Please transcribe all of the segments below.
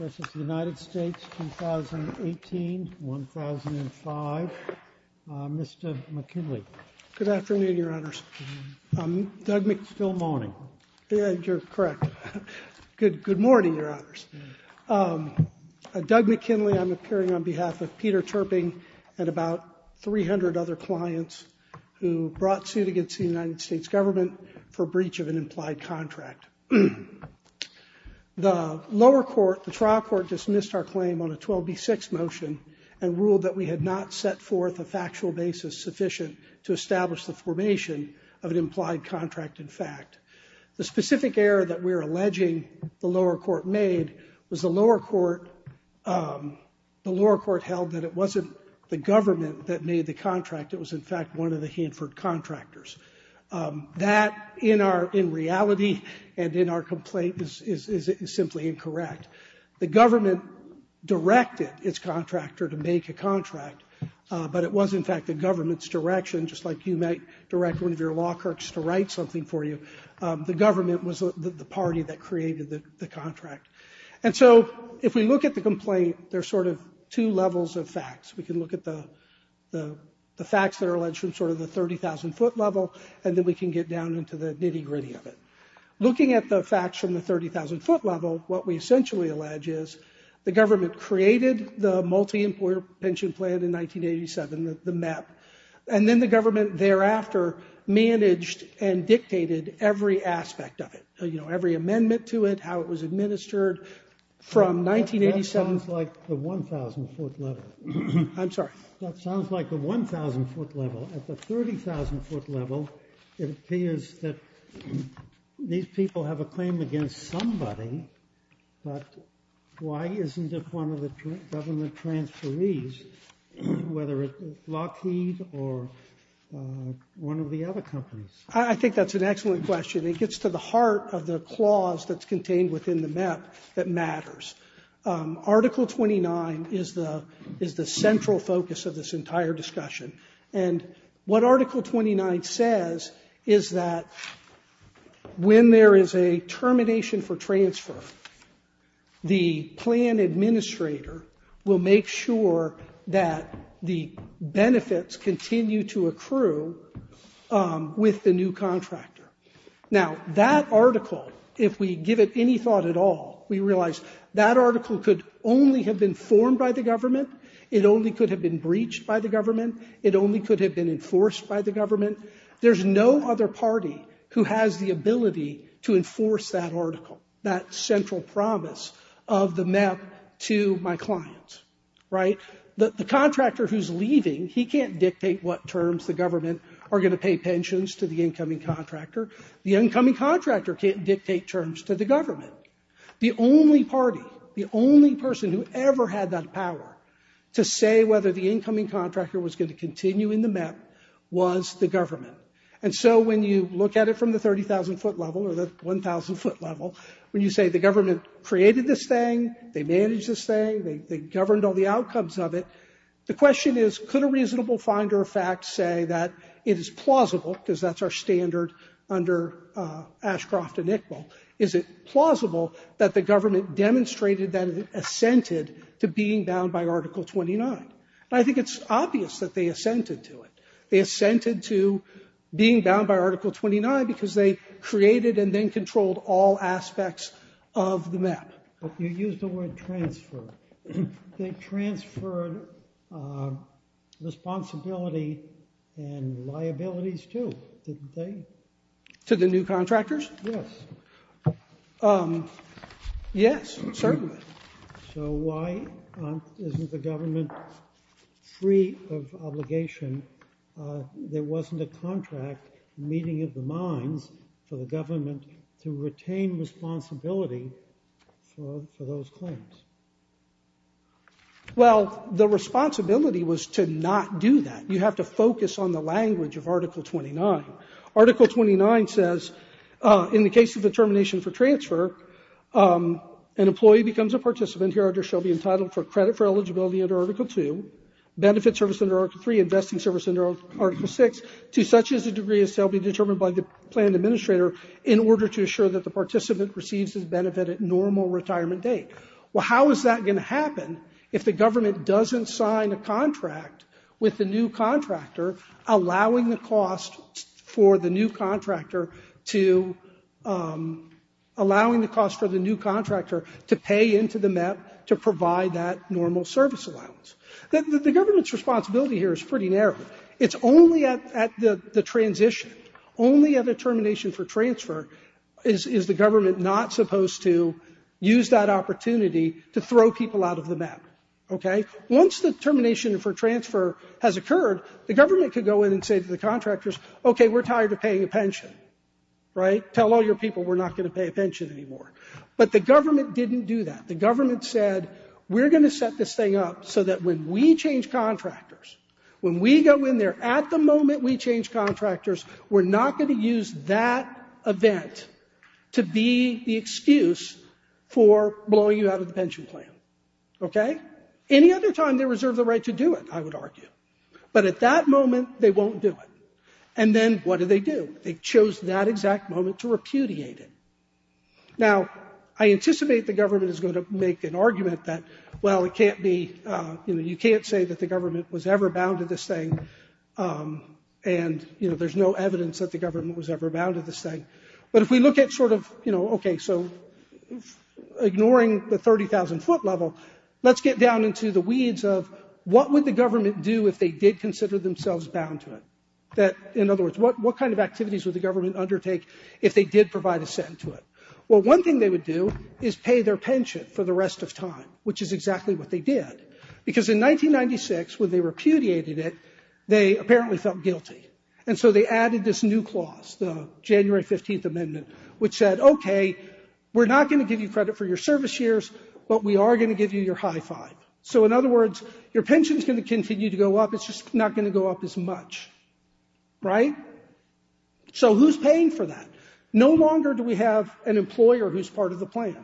The United States 2018-2005, Mr. McKinley. Good afternoon, your honors. Doug McPhill-Moaning. Yeah, you're correct. Good morning, your honors. Doug McKinley, I'm appearing on behalf of Peter Terping and about 300 other clients who brought suit against the United States government for breach of an implied contract. The lower court, the trial court dismissed our claim on a 12B6 motion and ruled that we had not set forth a factual basis sufficient to establish the formation of an implied contract in fact. The specific error that we're alleging the lower court made was the lower court held that it wasn't the government that made the contract, it was in fact one of the Hanford contractors. That in reality and in our complaint is simply incorrect. The government directed its contractor to make a contract, but it was in fact the government's direction just like you might direct one of your law clerks to write something for you. The government was the party that created the contract. And so if we look at the complaint, there's sort of two levels of facts. We can look at the facts that are alleged from sort of the 30,000 foot level, and then we can get down into the nitty gritty of it. Looking at the facts from the 30,000 foot level, what we essentially allege is the government created the multi-employer pension plan in 1987, the MEP, and then the government thereafter managed and dictated every aspect of it, you know, every amendment to it, how it was administered from 1987. That sounds like the 1,000 foot level. I'm sorry? That sounds like the 1,000 foot level. At the 30,000 foot level, it appears that these people have a claim against somebody, but why isn't it one of the government transferees, whether it's Lockheed or one of the other companies? I think that's an excellent question. It gets to the heart of the clause that's contained within the MEP that matters. Article 29 is the central focus of this entire discussion. And what Article 29 says is that when there is a termination for transfer, the plan administrator will make sure that the benefits continue to accrue with the new contractor. Now, that article, if we give it any thought at all, we realize that article could only have been formed by the government. It only could have been breached by the government. It only could have been enforced by the government. There's no other party who has the ability to enforce that article, that central promise of the MEP to my client, right? The contractor who's leaving, he can't dictate what terms the government are going to pay pensions to the incoming contractor. The incoming contractor can't dictate terms to the government. The only party, the only person who ever had that power to say whether the incoming contractor was going to continue in the MEP was the government. And so when you look at it from the 30,000-foot level or the 1,000-foot level, when you say the government created this thing, they managed this thing, they governed all the outcomes of it, the question is, could a reasonable finder of facts say that it is plausible, because that's our standard under Ashcroft and Iqbal, is it plausible that the government demonstrated that it assented to being bound by Article 29? And I think it's obvious that they assented to it. They assented to being bound by Article 29 because they created and then controlled all aspects of the MEP. You used the word transfer. They transferred responsibility and liabilities, too, didn't they? To the new contractors? Yes. Yes, certainly. So why isn't the government free of obligation? There wasn't a contract meeting of the minds for the government to retain responsibility for those claims. Well, the responsibility was to not do that. You have to focus on the language of Article 29. Article 29 says, in the case of the termination for transfer, an employee becomes a participant hereafter shall be entitled for credit for eligibility under Article 2, benefit service under Article 3, investing service under Article 6, to such as a degree as shall be determined by the planned administrator in order to assure that the participant receives his benefit at normal retirement date. Well, how is that going to happen if the government doesn't sign a contract with the new contractor, allowing the cost for the new contractor to pay into the MEP to provide that normal service allowance? The government's responsibility here is pretty narrow. It's only at the transition, only at the termination for transfer, is the government not supposed to use that opportunity to throw people out of the MEP. Okay? Once the termination for transfer has occurred, the government could go in and say to the contractors, okay, we're tired of paying a pension. Right? Tell all your people we're not going to pay a pension anymore. But the government didn't do that. The government said, we're going to set this thing up so that when we change contractors, when we go in there, at the moment we change contractors, we're not going to use that event to be the excuse for blowing you out of the pension plan. Okay? Any other time, they reserve the right to do it, I would argue. But at that moment, they won't do it. And then what do they do? They chose that exact moment to repudiate it. Now, I anticipate the government is going to make an argument that, well, it can't be, you know, you can't say that the government was ever bound to this thing and, you know, there's no evidence that the government was ever bound to this thing. But if we look at sort of, you know, okay, so ignoring the 30,000-foot level, let's get down into the weeds of what would the government do if they did consider themselves bound to it? That, in other words, what kind of activities would the government undertake if they did provide a cent to it? Well, one thing they would do is pay their pension for the rest of time, which is exactly what they did, because in 1996, when they repudiated it, they apparently felt guilty. And so they added this new clause, the January 15th Amendment, which said, okay, we're not going to give you credit for your service years, but we are going to give you your high five. So in other words, your pension is going to continue to go up. It's just not going to go up as much. Right? So who's paying for that? No longer do we have an employer who's part of the plan.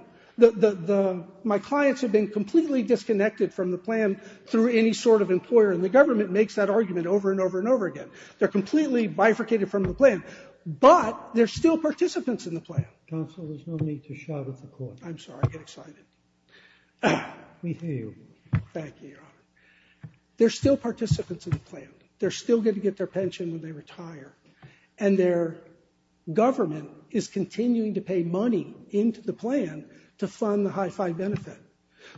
My clients have been completely disconnected from the plan through any sort of employer, and the government makes that argument over and over and over again. They're completely bifurcated from the plan, but they're still participants in the plan. Counsel, there's no need to shout at the court. I'm sorry, I get excited. We hear you. Thank you, Your Honor. They're still participants in the plan. They're still going to get their pension when they retire. And their government is continuing to pay money into the plan to fund the high five benefit.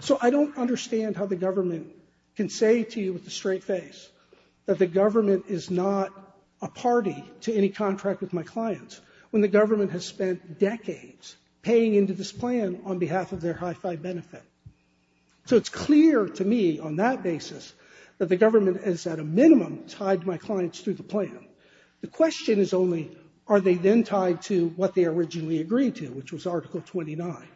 So I don't understand how the government can say to you with a straight face that the government is not a party to any contract with my clients, when the government has spent decades paying into this plan on behalf of their high five benefit. So it's clear to me on that basis that the government is at a minimum tied to my clients through the plan. The question is only, are they then tied to what they originally agreed to, which was Article 29?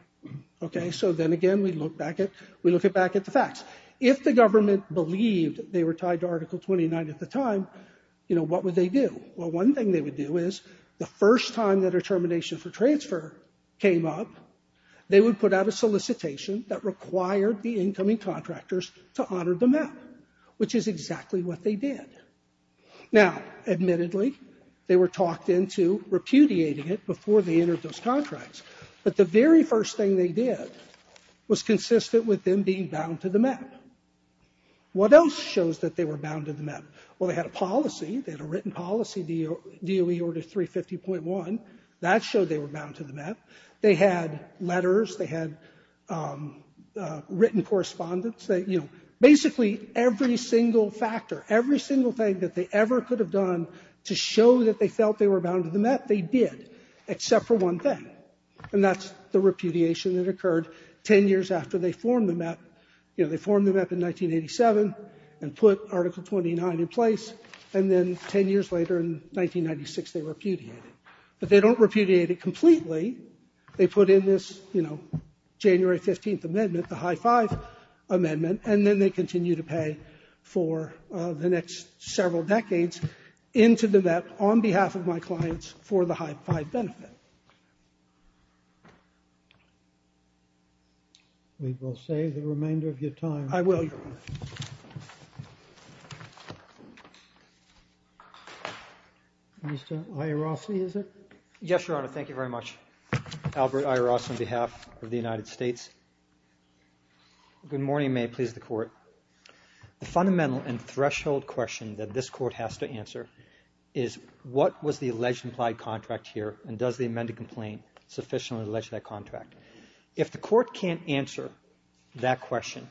Okay, so then again, we look back at the facts. If the government believed they were tied to Article 29 at the time, what would they do? Well, one thing they would do is, the first time the determination for transfer came up, they would put out a solicitation that required the incoming contractors to honor the map, which is exactly what they did. Now, admittedly, they were talked into repudiating it before they entered those contracts. But the very first thing they did was consistent with them being bound to the map. What else shows that they were bound to the map? Well, they had a policy. They had a written policy, DOE Order 350.1. That showed they were bound to the map. They had letters. They had written correspondence. They, you know, basically every single factor, every single thing that they ever could have done to show that they felt they were bound to the map, they did, except for one thing, and that's the repudiation that occurred ten years after they formed the map. You know, they formed the map in 1987 and put Article 29 in place, and then ten years later, in 1996, they repudiated it. But they don't repudiate it completely. They put in this, you know, January 15th Amendment, the High Five Amendment, and then they continue to pay for the next several decades into the map on behalf of my clients for the High Five Benefit. We will save the remainder of your time. I will, Your Honor. Mr. Iorossi, is it? Yes, Your Honor. Thank you very much. Albert Iorossi on behalf of the United States. Good morning. May it please the Court. The fundamental and threshold question that this Court has to answer is what was the alleged implied contract here, and does the amended complaint sufficiently allege that contract? If the Court can't answer that question,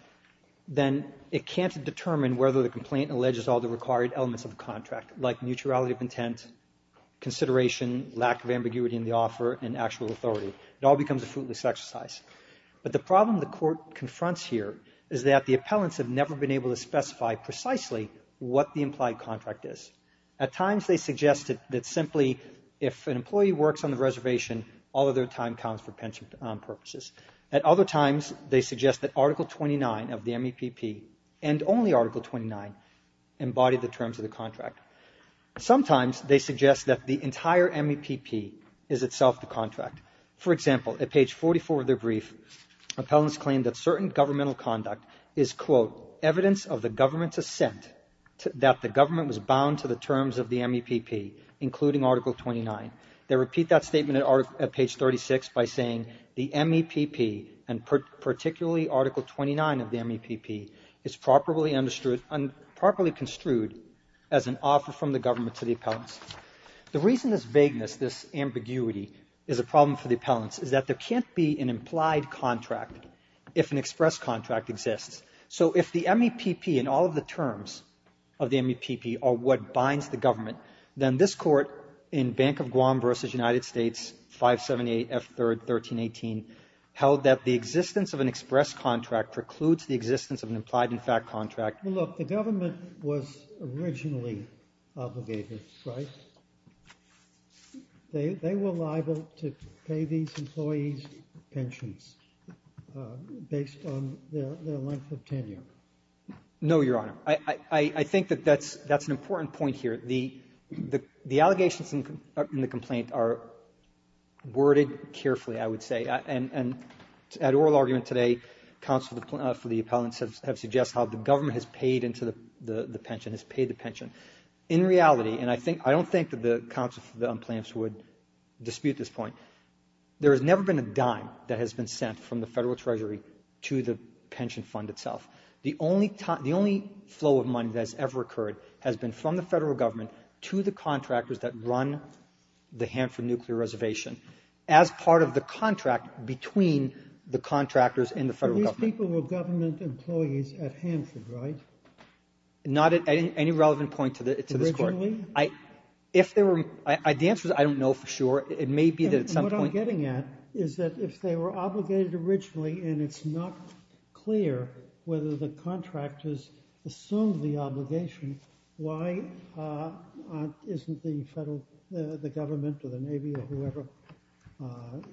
then it can't determine whether the complaint alleges all the required elements of the contract, like mutuality of intent, consideration, lack of ambiguity in the offer, and actual authority. It all becomes a fruitless exercise. But the problem the Court confronts here is that the appellants have never been able to specify precisely what the implied contract is. At times, they suggest that simply if an employee works on the reservation, all of their time counts for pension purposes. At other times, they suggest that Article 29 of the MEPP, and only Article 29, embody the terms of the contract. Sometimes they suggest that the entire MEPP is itself the contract. For example, at page 44 of their brief, appellants claim that certain governmental conduct is, quote, evidence of the government's assent that the government was bound to the terms of the MEPP, including Article 29. They repeat that statement at page 36 by saying the MEPP, and particularly Article 29 of the MEPP, is properly construed as an offer from the government to the appellants. The reason this vagueness, this ambiguity, is a problem for the appellants is that there can't be an implied contract if an express contract exists. So if the MEPP and all of the terms of the MEPP are what binds the government, then this Court, in Bank of Guam v. United States, 578 F. 3rd, 1318, held that the existence of an express contract precludes the existence of an implied-in-fact contract. Well, look, the government was originally obligated, right? They were liable to pay these employees pensions based on their length of tenure. No, Your Honor. I think that that's an important point here. The allegations in the complaint are worded carefully, I would say. And at oral argument today, counsel for the appellants have suggested how the government has paid into the pension, has paid the pension. In reality, and I don't think that the counsel for the plaintiffs would dispute this point, there has never been a dime that has been sent from the Federal Treasury to the pension fund itself. The only flow of money that has ever occurred has been from the Federal Government to the contractors that run the Hanford Nuclear Reservation. As part of the contract between the contractors and the Federal Government. These people were government employees at Hanford, right? Not at any relevant point to this court. Originally? The answer is I don't know for sure. It may be that at some point... What I'm getting at is that if they were obligated originally and it's not clear whether the contractors assumed the obligation, why isn't the government or the Navy or whoever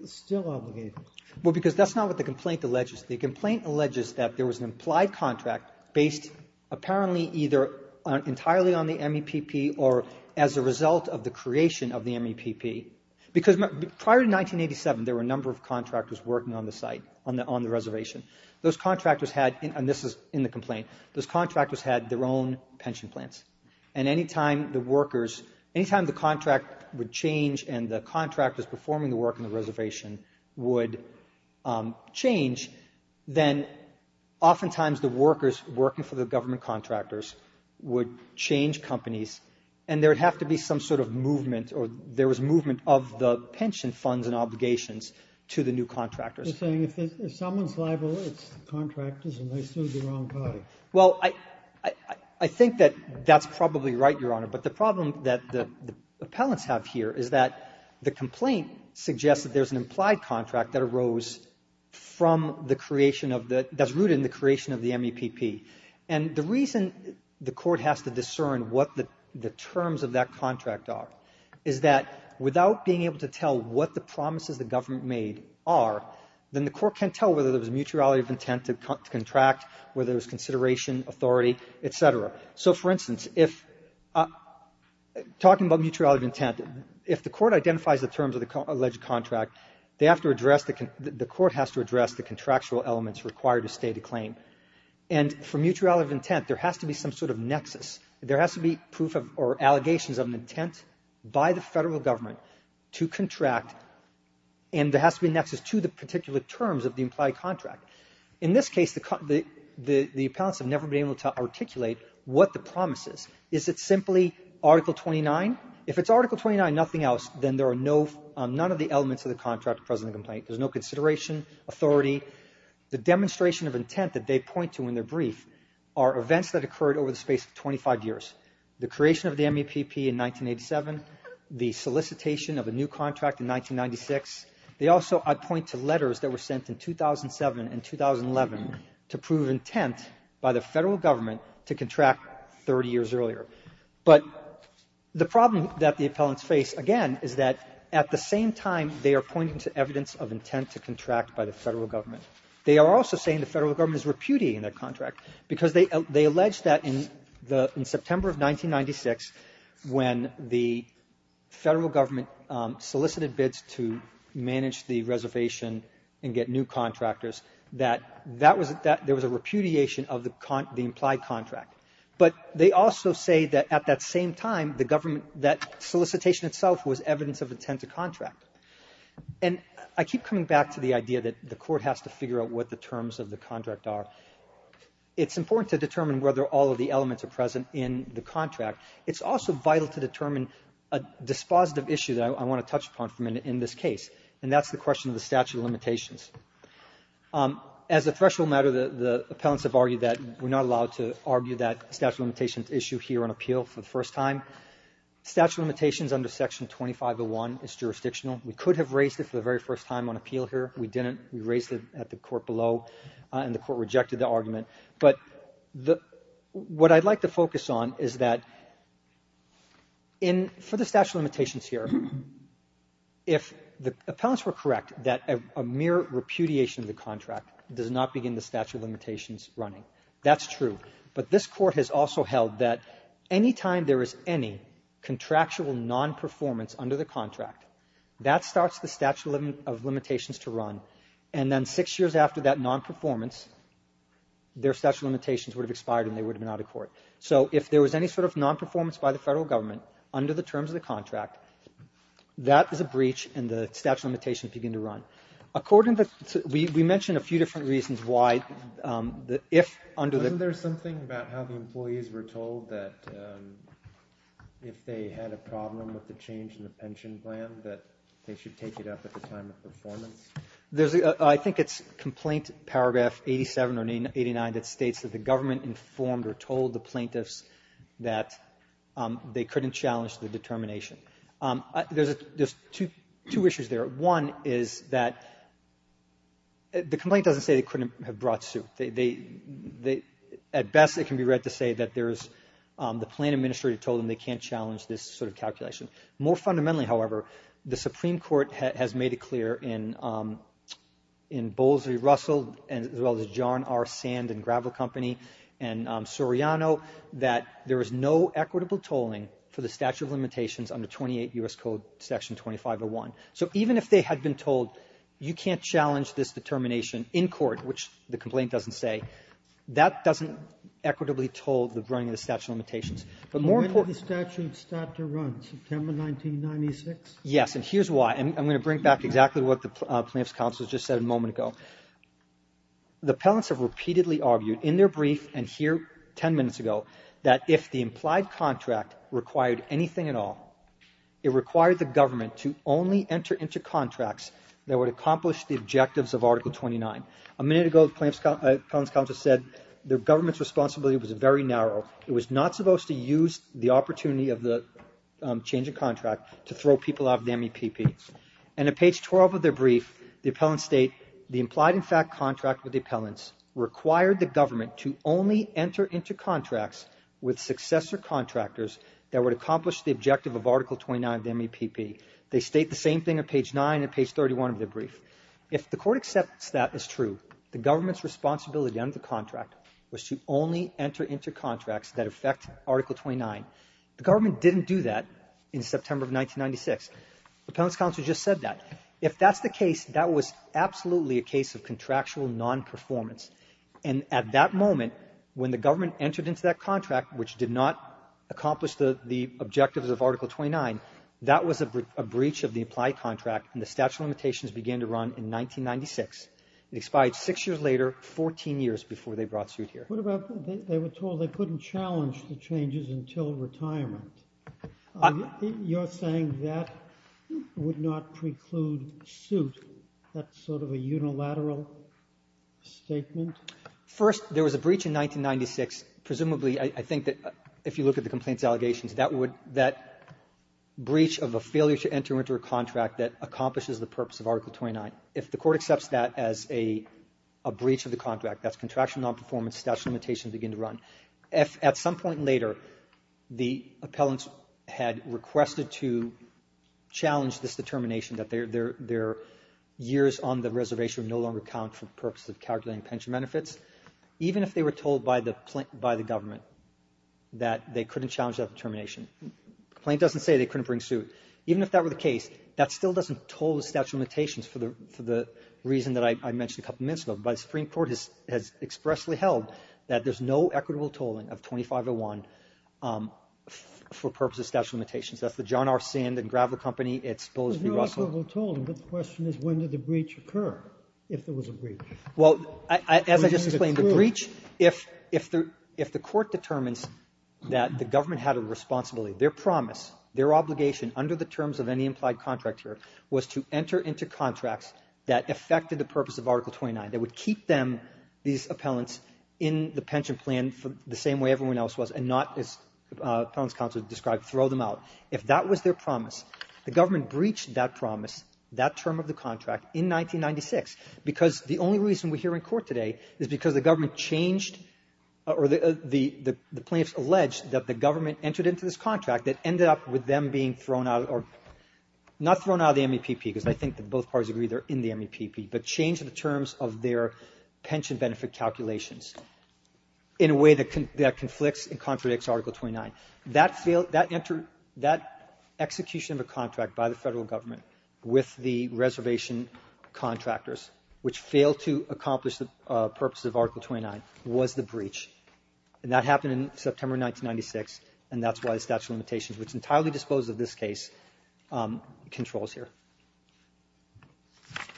still obligated? Well, because that's not what the complaint alleges. The complaint alleges that there was an implied contract based apparently either entirely on the MEPP or as a result of the creation of the MEPP. Because prior to 1987, there were a number of contractors working on the site, on the reservation. Those contractors had, and this is in the complaint, those contractors had their own pension plans. And any time the workers, any time the contract would change and the contractors performing the work on the reservation would change, then oftentimes the workers working for the government contractors would change companies and there would have to be some sort of movement or there was movement of the pension funds and obligations to the new contractors. You're saying if someone's liable, it's the contractors and they stood the wrong party. Well, I think that that's probably right, Your Honor. But the problem that the appellants have here is that the complaint suggests that there's an implied contract that arose from the creation of the, that's rooted in the creation of the MEPP. And the reason the court has to discern what the terms of that contract are is that without being able to tell what the promises the government made are, then the court can't tell whether there was mutuality of intent to contract, whether there was consideration, authority, et cetera. So, for instance, if, talking about mutuality of intent, if the court identifies the terms of the alleged contract, they have to address, the court has to address the contractual elements required to state a claim. And for mutuality of intent, there has to be some sort of nexus. There has to be proof or allegations of an intent by the federal government to contract and there has to be a nexus to the particular terms of the implied contract. In this case, the appellants have never been able to articulate what the promise is. Is it simply Article 29? If it's Article 29, nothing else, then there are no, none of the elements of the contract present in the complaint. There's no consideration, authority. The demonstration of intent that they point to in their brief are events that occurred over the space of 25 years. The creation of the MEPP in 1987, the solicitation of a new contract in 1996. They also point to letters that were sent in 2007 and 2011 to prove intent by the federal government to contract 30 years earlier. But the problem that the appellants face, again, is that at the same time, they are pointing to evidence of intent to contract by the federal government. They are also saying the federal government is repudiating their contract because they, they allege that in the, in September of 1996, when the federal government solicited bids to manage the reservation and get new contractors, that that was, that there was a repudiation of the implied contract. But they also say that at that same time, the government, that solicitation itself was evidence of intent to contract. And I keep coming back to the idea that the court has to figure out what the terms of the contract are. It's important to determine whether all of the elements are present in the contract. It's also vital to determine a dispositive issue that I want to touch upon in this case, and that's the question of the statute of limitations. As a threshold matter, the appellants have argued that we're not allowed to argue that statute of limitations issue here on appeal for the first time. Statute of limitations under Section 2501 is jurisdictional. We could have raised it for the very first time on appeal here. We didn't. We raised it at the court below, and the court rejected the argument. But what I'd like to focus on is that, for the statute of limitations here, if the appellants were correct that a mere repudiation of the contract does not begin the statute of limitations running, that's true. But this court has also held that any time there is any contractual non-performance under the contract, that starts the statute of limitations to run, and then six years after that non-performance, their statute of limitations would have expired and they would have been out of court. So if there was any sort of non-performance by the federal government under the terms of the contract, that is a breach and the statute of limitations would begin to run. We mentioned a few different reasons why. Wasn't there something about how the employees were told that if they had a problem with the change in the pension plan that they should take it up at the time of performance? I think it's Complaint Paragraph 87 or 89 that states that the government informed or told the plaintiffs that they couldn't challenge the determination. There's two issues there. One is that the complaint doesn't say they couldn't have brought suit. At best, it can be read to say that there's the plan administrator told them they can't challenge this sort of calculation. More fundamentally, however, the Supreme Court has made it clear in Bowles v. Russell as well as John R. Sand and Gravel Company and Soriano that there is no equitable tolling for the statute of limitations under 28 U.S. Code Section 2501. So even if they had been told you can't challenge this determination in court, which the complaint doesn't say, that doesn't equitably toll the running of the statute of limitations. But more importantly... When did the statute start to run? September 1996? Yes, and here's why. I'm going to bring back exactly what the plaintiffs' counsel just said a moment ago. The appellants have repeatedly argued in their brief and here 10 minutes ago that if the implied contract required anything at all, it required the government to only enter into contracts that would accomplish the objectives of Article 29. A minute ago the plaintiffs' counsel said the government's responsibility was very narrow. It was not supposed to use the opportunity of the change of contract to throw people out of the MEPP. And at page 12 of their brief, the appellants state the implied in fact contract with the appellants required the government to only enter into contracts with successor contractors that would accomplish the objective of Article 29 of the MEPP. They state the same thing on page 9 and page 31 of their brief. If the court accepts that as true, the government's responsibility under the contract was to only enter into contracts that affect Article 29. The government didn't do that in September of 1996. The appellants' counsel just said that. If that's the case, that was absolutely a case of contractual non-performance, and at that moment when the government entered into that contract, which did not accomplish the objectives of Article 29, that was a breach of the implied contract, and the statute of limitations began to run in 1996. It expired 6 years later, 14 years before they brought suit here. What about they were told they couldn't challenge the changes until retirement? You're saying that would not preclude suit. That's sort of a unilateral statement? First, there was a breach in 1996. Presumably, I think that if you look at the reservations, that would, that breach of a failure to enter into a contract that accomplishes the purpose of Article 29, if the court accepts that as a breach of the contract, that's contractual non-performance, statute of limitations begin to run. At some point later, the appellants had requested to challenge this determination that their years on the reservation would no longer count for the purpose of calculating pension benefits, even if they were told by the government that they couldn't challenge that determination. The complaint doesn't say they couldn't bring suit. Even if that were the case, that still doesn't toll the statute of limitations for the reason that I mentioned a couple of minutes ago. But the Supreme Court has expressly held that there's no equitable tolling of 2501 for the purpose of statute of limitations. That's the John R. Sand and Gravel Company, it's Bulls v. Russell. The question is when did the breach occur, if there was a breach? Well, as I just explained, the breach, if the court determines that the government had a responsibility, their promise, their obligation under the terms of any implied contract here was to enter into contracts that affected the purpose of Article 29, that would keep them, these appellants, in the pension plan the same way everyone else was and not, as Appellant's counsel described, throw them out. If that was their promise, the government breached that promise, that term of the contract, in 1996, because the only reason we're here in court today is because the government changed, or the plaintiffs alleged that the government entered into this contract that ended up with them being thrown out, not thrown out of the MEPP because I think that both parties agree they're in the MEPP, but changed the terms of their pension benefit calculations in a way that conflicts and contradicts Article 29. That failed, that entered, that execution of a contract by the Federal government with the reservation contractors, which failed to accomplish the purpose of Article 29, was the breach, and that happened in September 1996, and that's why the statute of limitations, which entirely disposes of this case, controls here.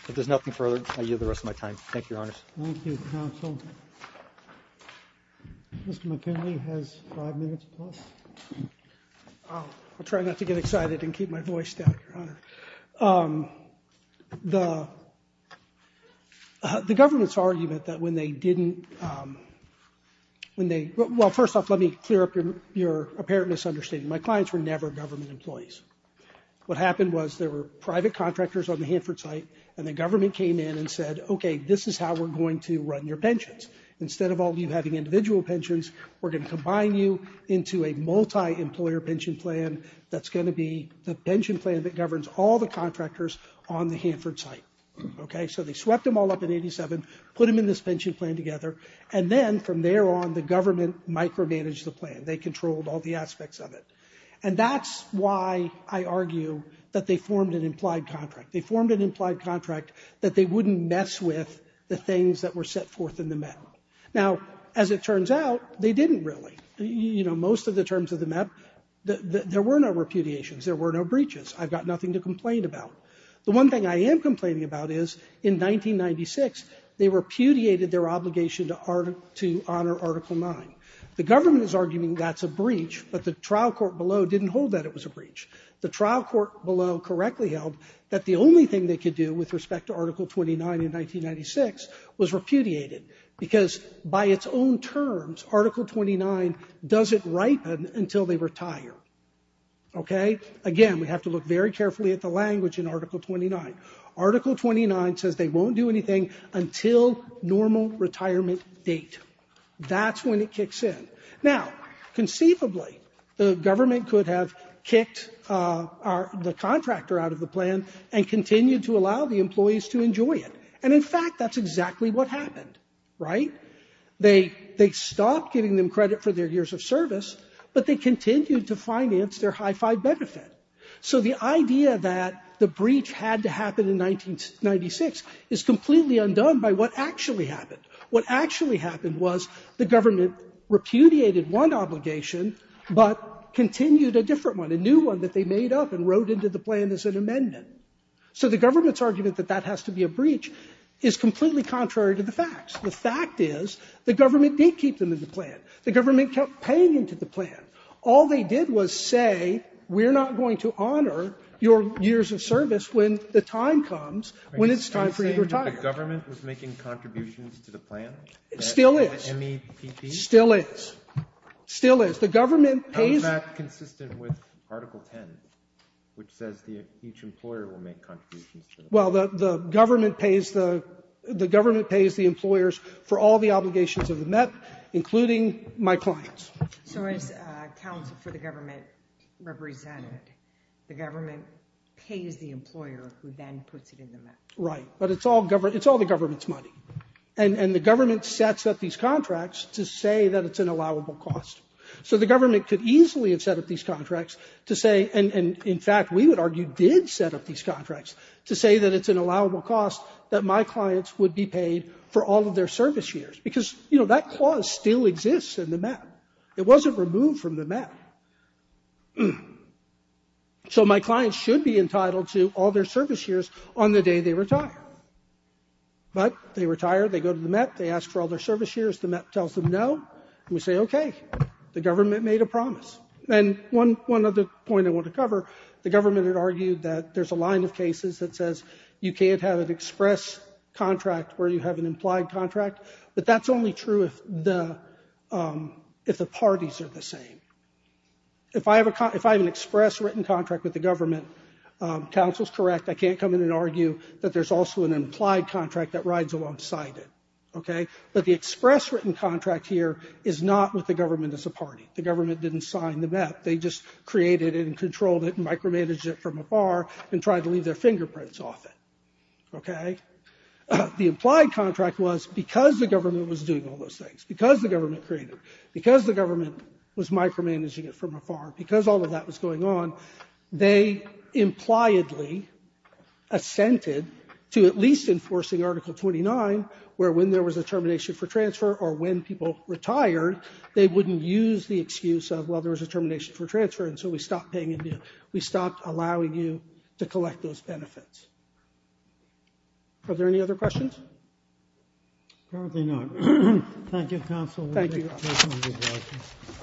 If there's nothing further, I yield the rest of my time. Thank you, Your Honors. Thank you, counsel. Mr. McKinley has five minutes plus. I'll try not to get excited and keep my voice down, Your Honor. The government's argument that when they didn't... Well, first off, let me clear up your apparent misunderstanding. My clients were never government employees. What happened was there were private contractors on the Hanford site, and the government came in and said, OK, this is how we're going to run your pensions. Instead of all of you having individual pensions, we're going to combine you into a multi-employer pension plan that's going to be the pension plan that governs all the contractors on the Hanford site. So they swept them all up in 87, put them in this pension plan together, and then from there on, the government micromanaged the plan. They controlled all the aspects of it. And that's why I argue that they formed an implied contract. They formed an implied contract that they wouldn't mess with the things that were set forth in the MEP. Now, as it turns out, they didn't really. You know, most of the terms of the MEP, there were no repudiations. There were no breaches. I've got nothing to complain about. The one thing I am complaining about is in 1996, they repudiated their obligation to honor Article 9. The government is arguing that's a breach, but the trial court below didn't hold that it was a breach. The trial court below correctly held that the only thing they could do with respect to Article 29 in 1996 was repudiate it, because by its own terms, Article 29 doesn't ripen until they retire. Okay? Again, we have to look very carefully at the language in Article 29. Article 29 says they won't do anything until normal retirement date. That's when it kicks in. Now, conceivably, the government could have kicked the contractor out of the plan and continued to allow the employees to enjoy it. And in fact, that's exactly what happened. Right? They stopped giving them credit for their years of service, but they continued to finance their high-five benefit. So the idea that the breach had to happen in 1996 is completely undone by what actually happened. What actually happened was the government repudiated one obligation, but continued a different one, a new one that they made up and wrote into the plan as an amendment. So the government's argument that that has to be a breach is completely contrary to the facts. The fact is the government did keep them in the plan. The government kept paying into the plan. All they did was say, we're not going to honor your years of service when the time comes, when it's time for you to retire. So the government was making contributions to the plan? Still is. The MEPP? Still is. Still is. The government pays... That's consistent with Article 10, which says each employer will make contributions to the plan. Well, the government pays the employers for all the obligations of the MEP, including my clients. So as counsel for the government represented, the government pays the employer who then puts it in the MEP. Right. But it's all the government's money. And the government sets up these contracts to say that it's an allowable cost. So the government could easily have set up these contracts to say... And, in fact, we would argue did set up these contracts to say that it's an allowable cost that my clients would be paid for all of their service years, because, you know, that clause still exists in the MEP. It wasn't removed from the MEP. So my clients should be entitled to all their service years on the day they retire. But they retire, they go to the MEP, they ask for all their service years, the MEP tells them no, and we say, OK, the government made a promise. And one other point I want to cover, the government had argued that there's a line of cases that says you can't have an express contract where you have an implied contract, but that's only true if the parties are the same. If I have an express written contract with the government, counsel's correct, I can't come in and argue that there's also an implied contract that rides alongside it, OK? But the express written contract here is not with the government as a party. The government didn't sign the MEP. They just created it and controlled it and micromanaged it from afar and tried to leave their fingerprints off it, OK? The implied contract was because the government was doing all those things, because the government created it, because the government was micromanaging it from afar, because all of that was going on, they impliedly assented to at least enforcing Article 29, where when there was a termination for transfer or when people retired, they wouldn't use the excuse of, well, there was a termination for transfer, and so we stopped paying you, we stopped allowing you to collect those benefits. Are there any other questions? Apparently not. Thank you, counsel. Thank you.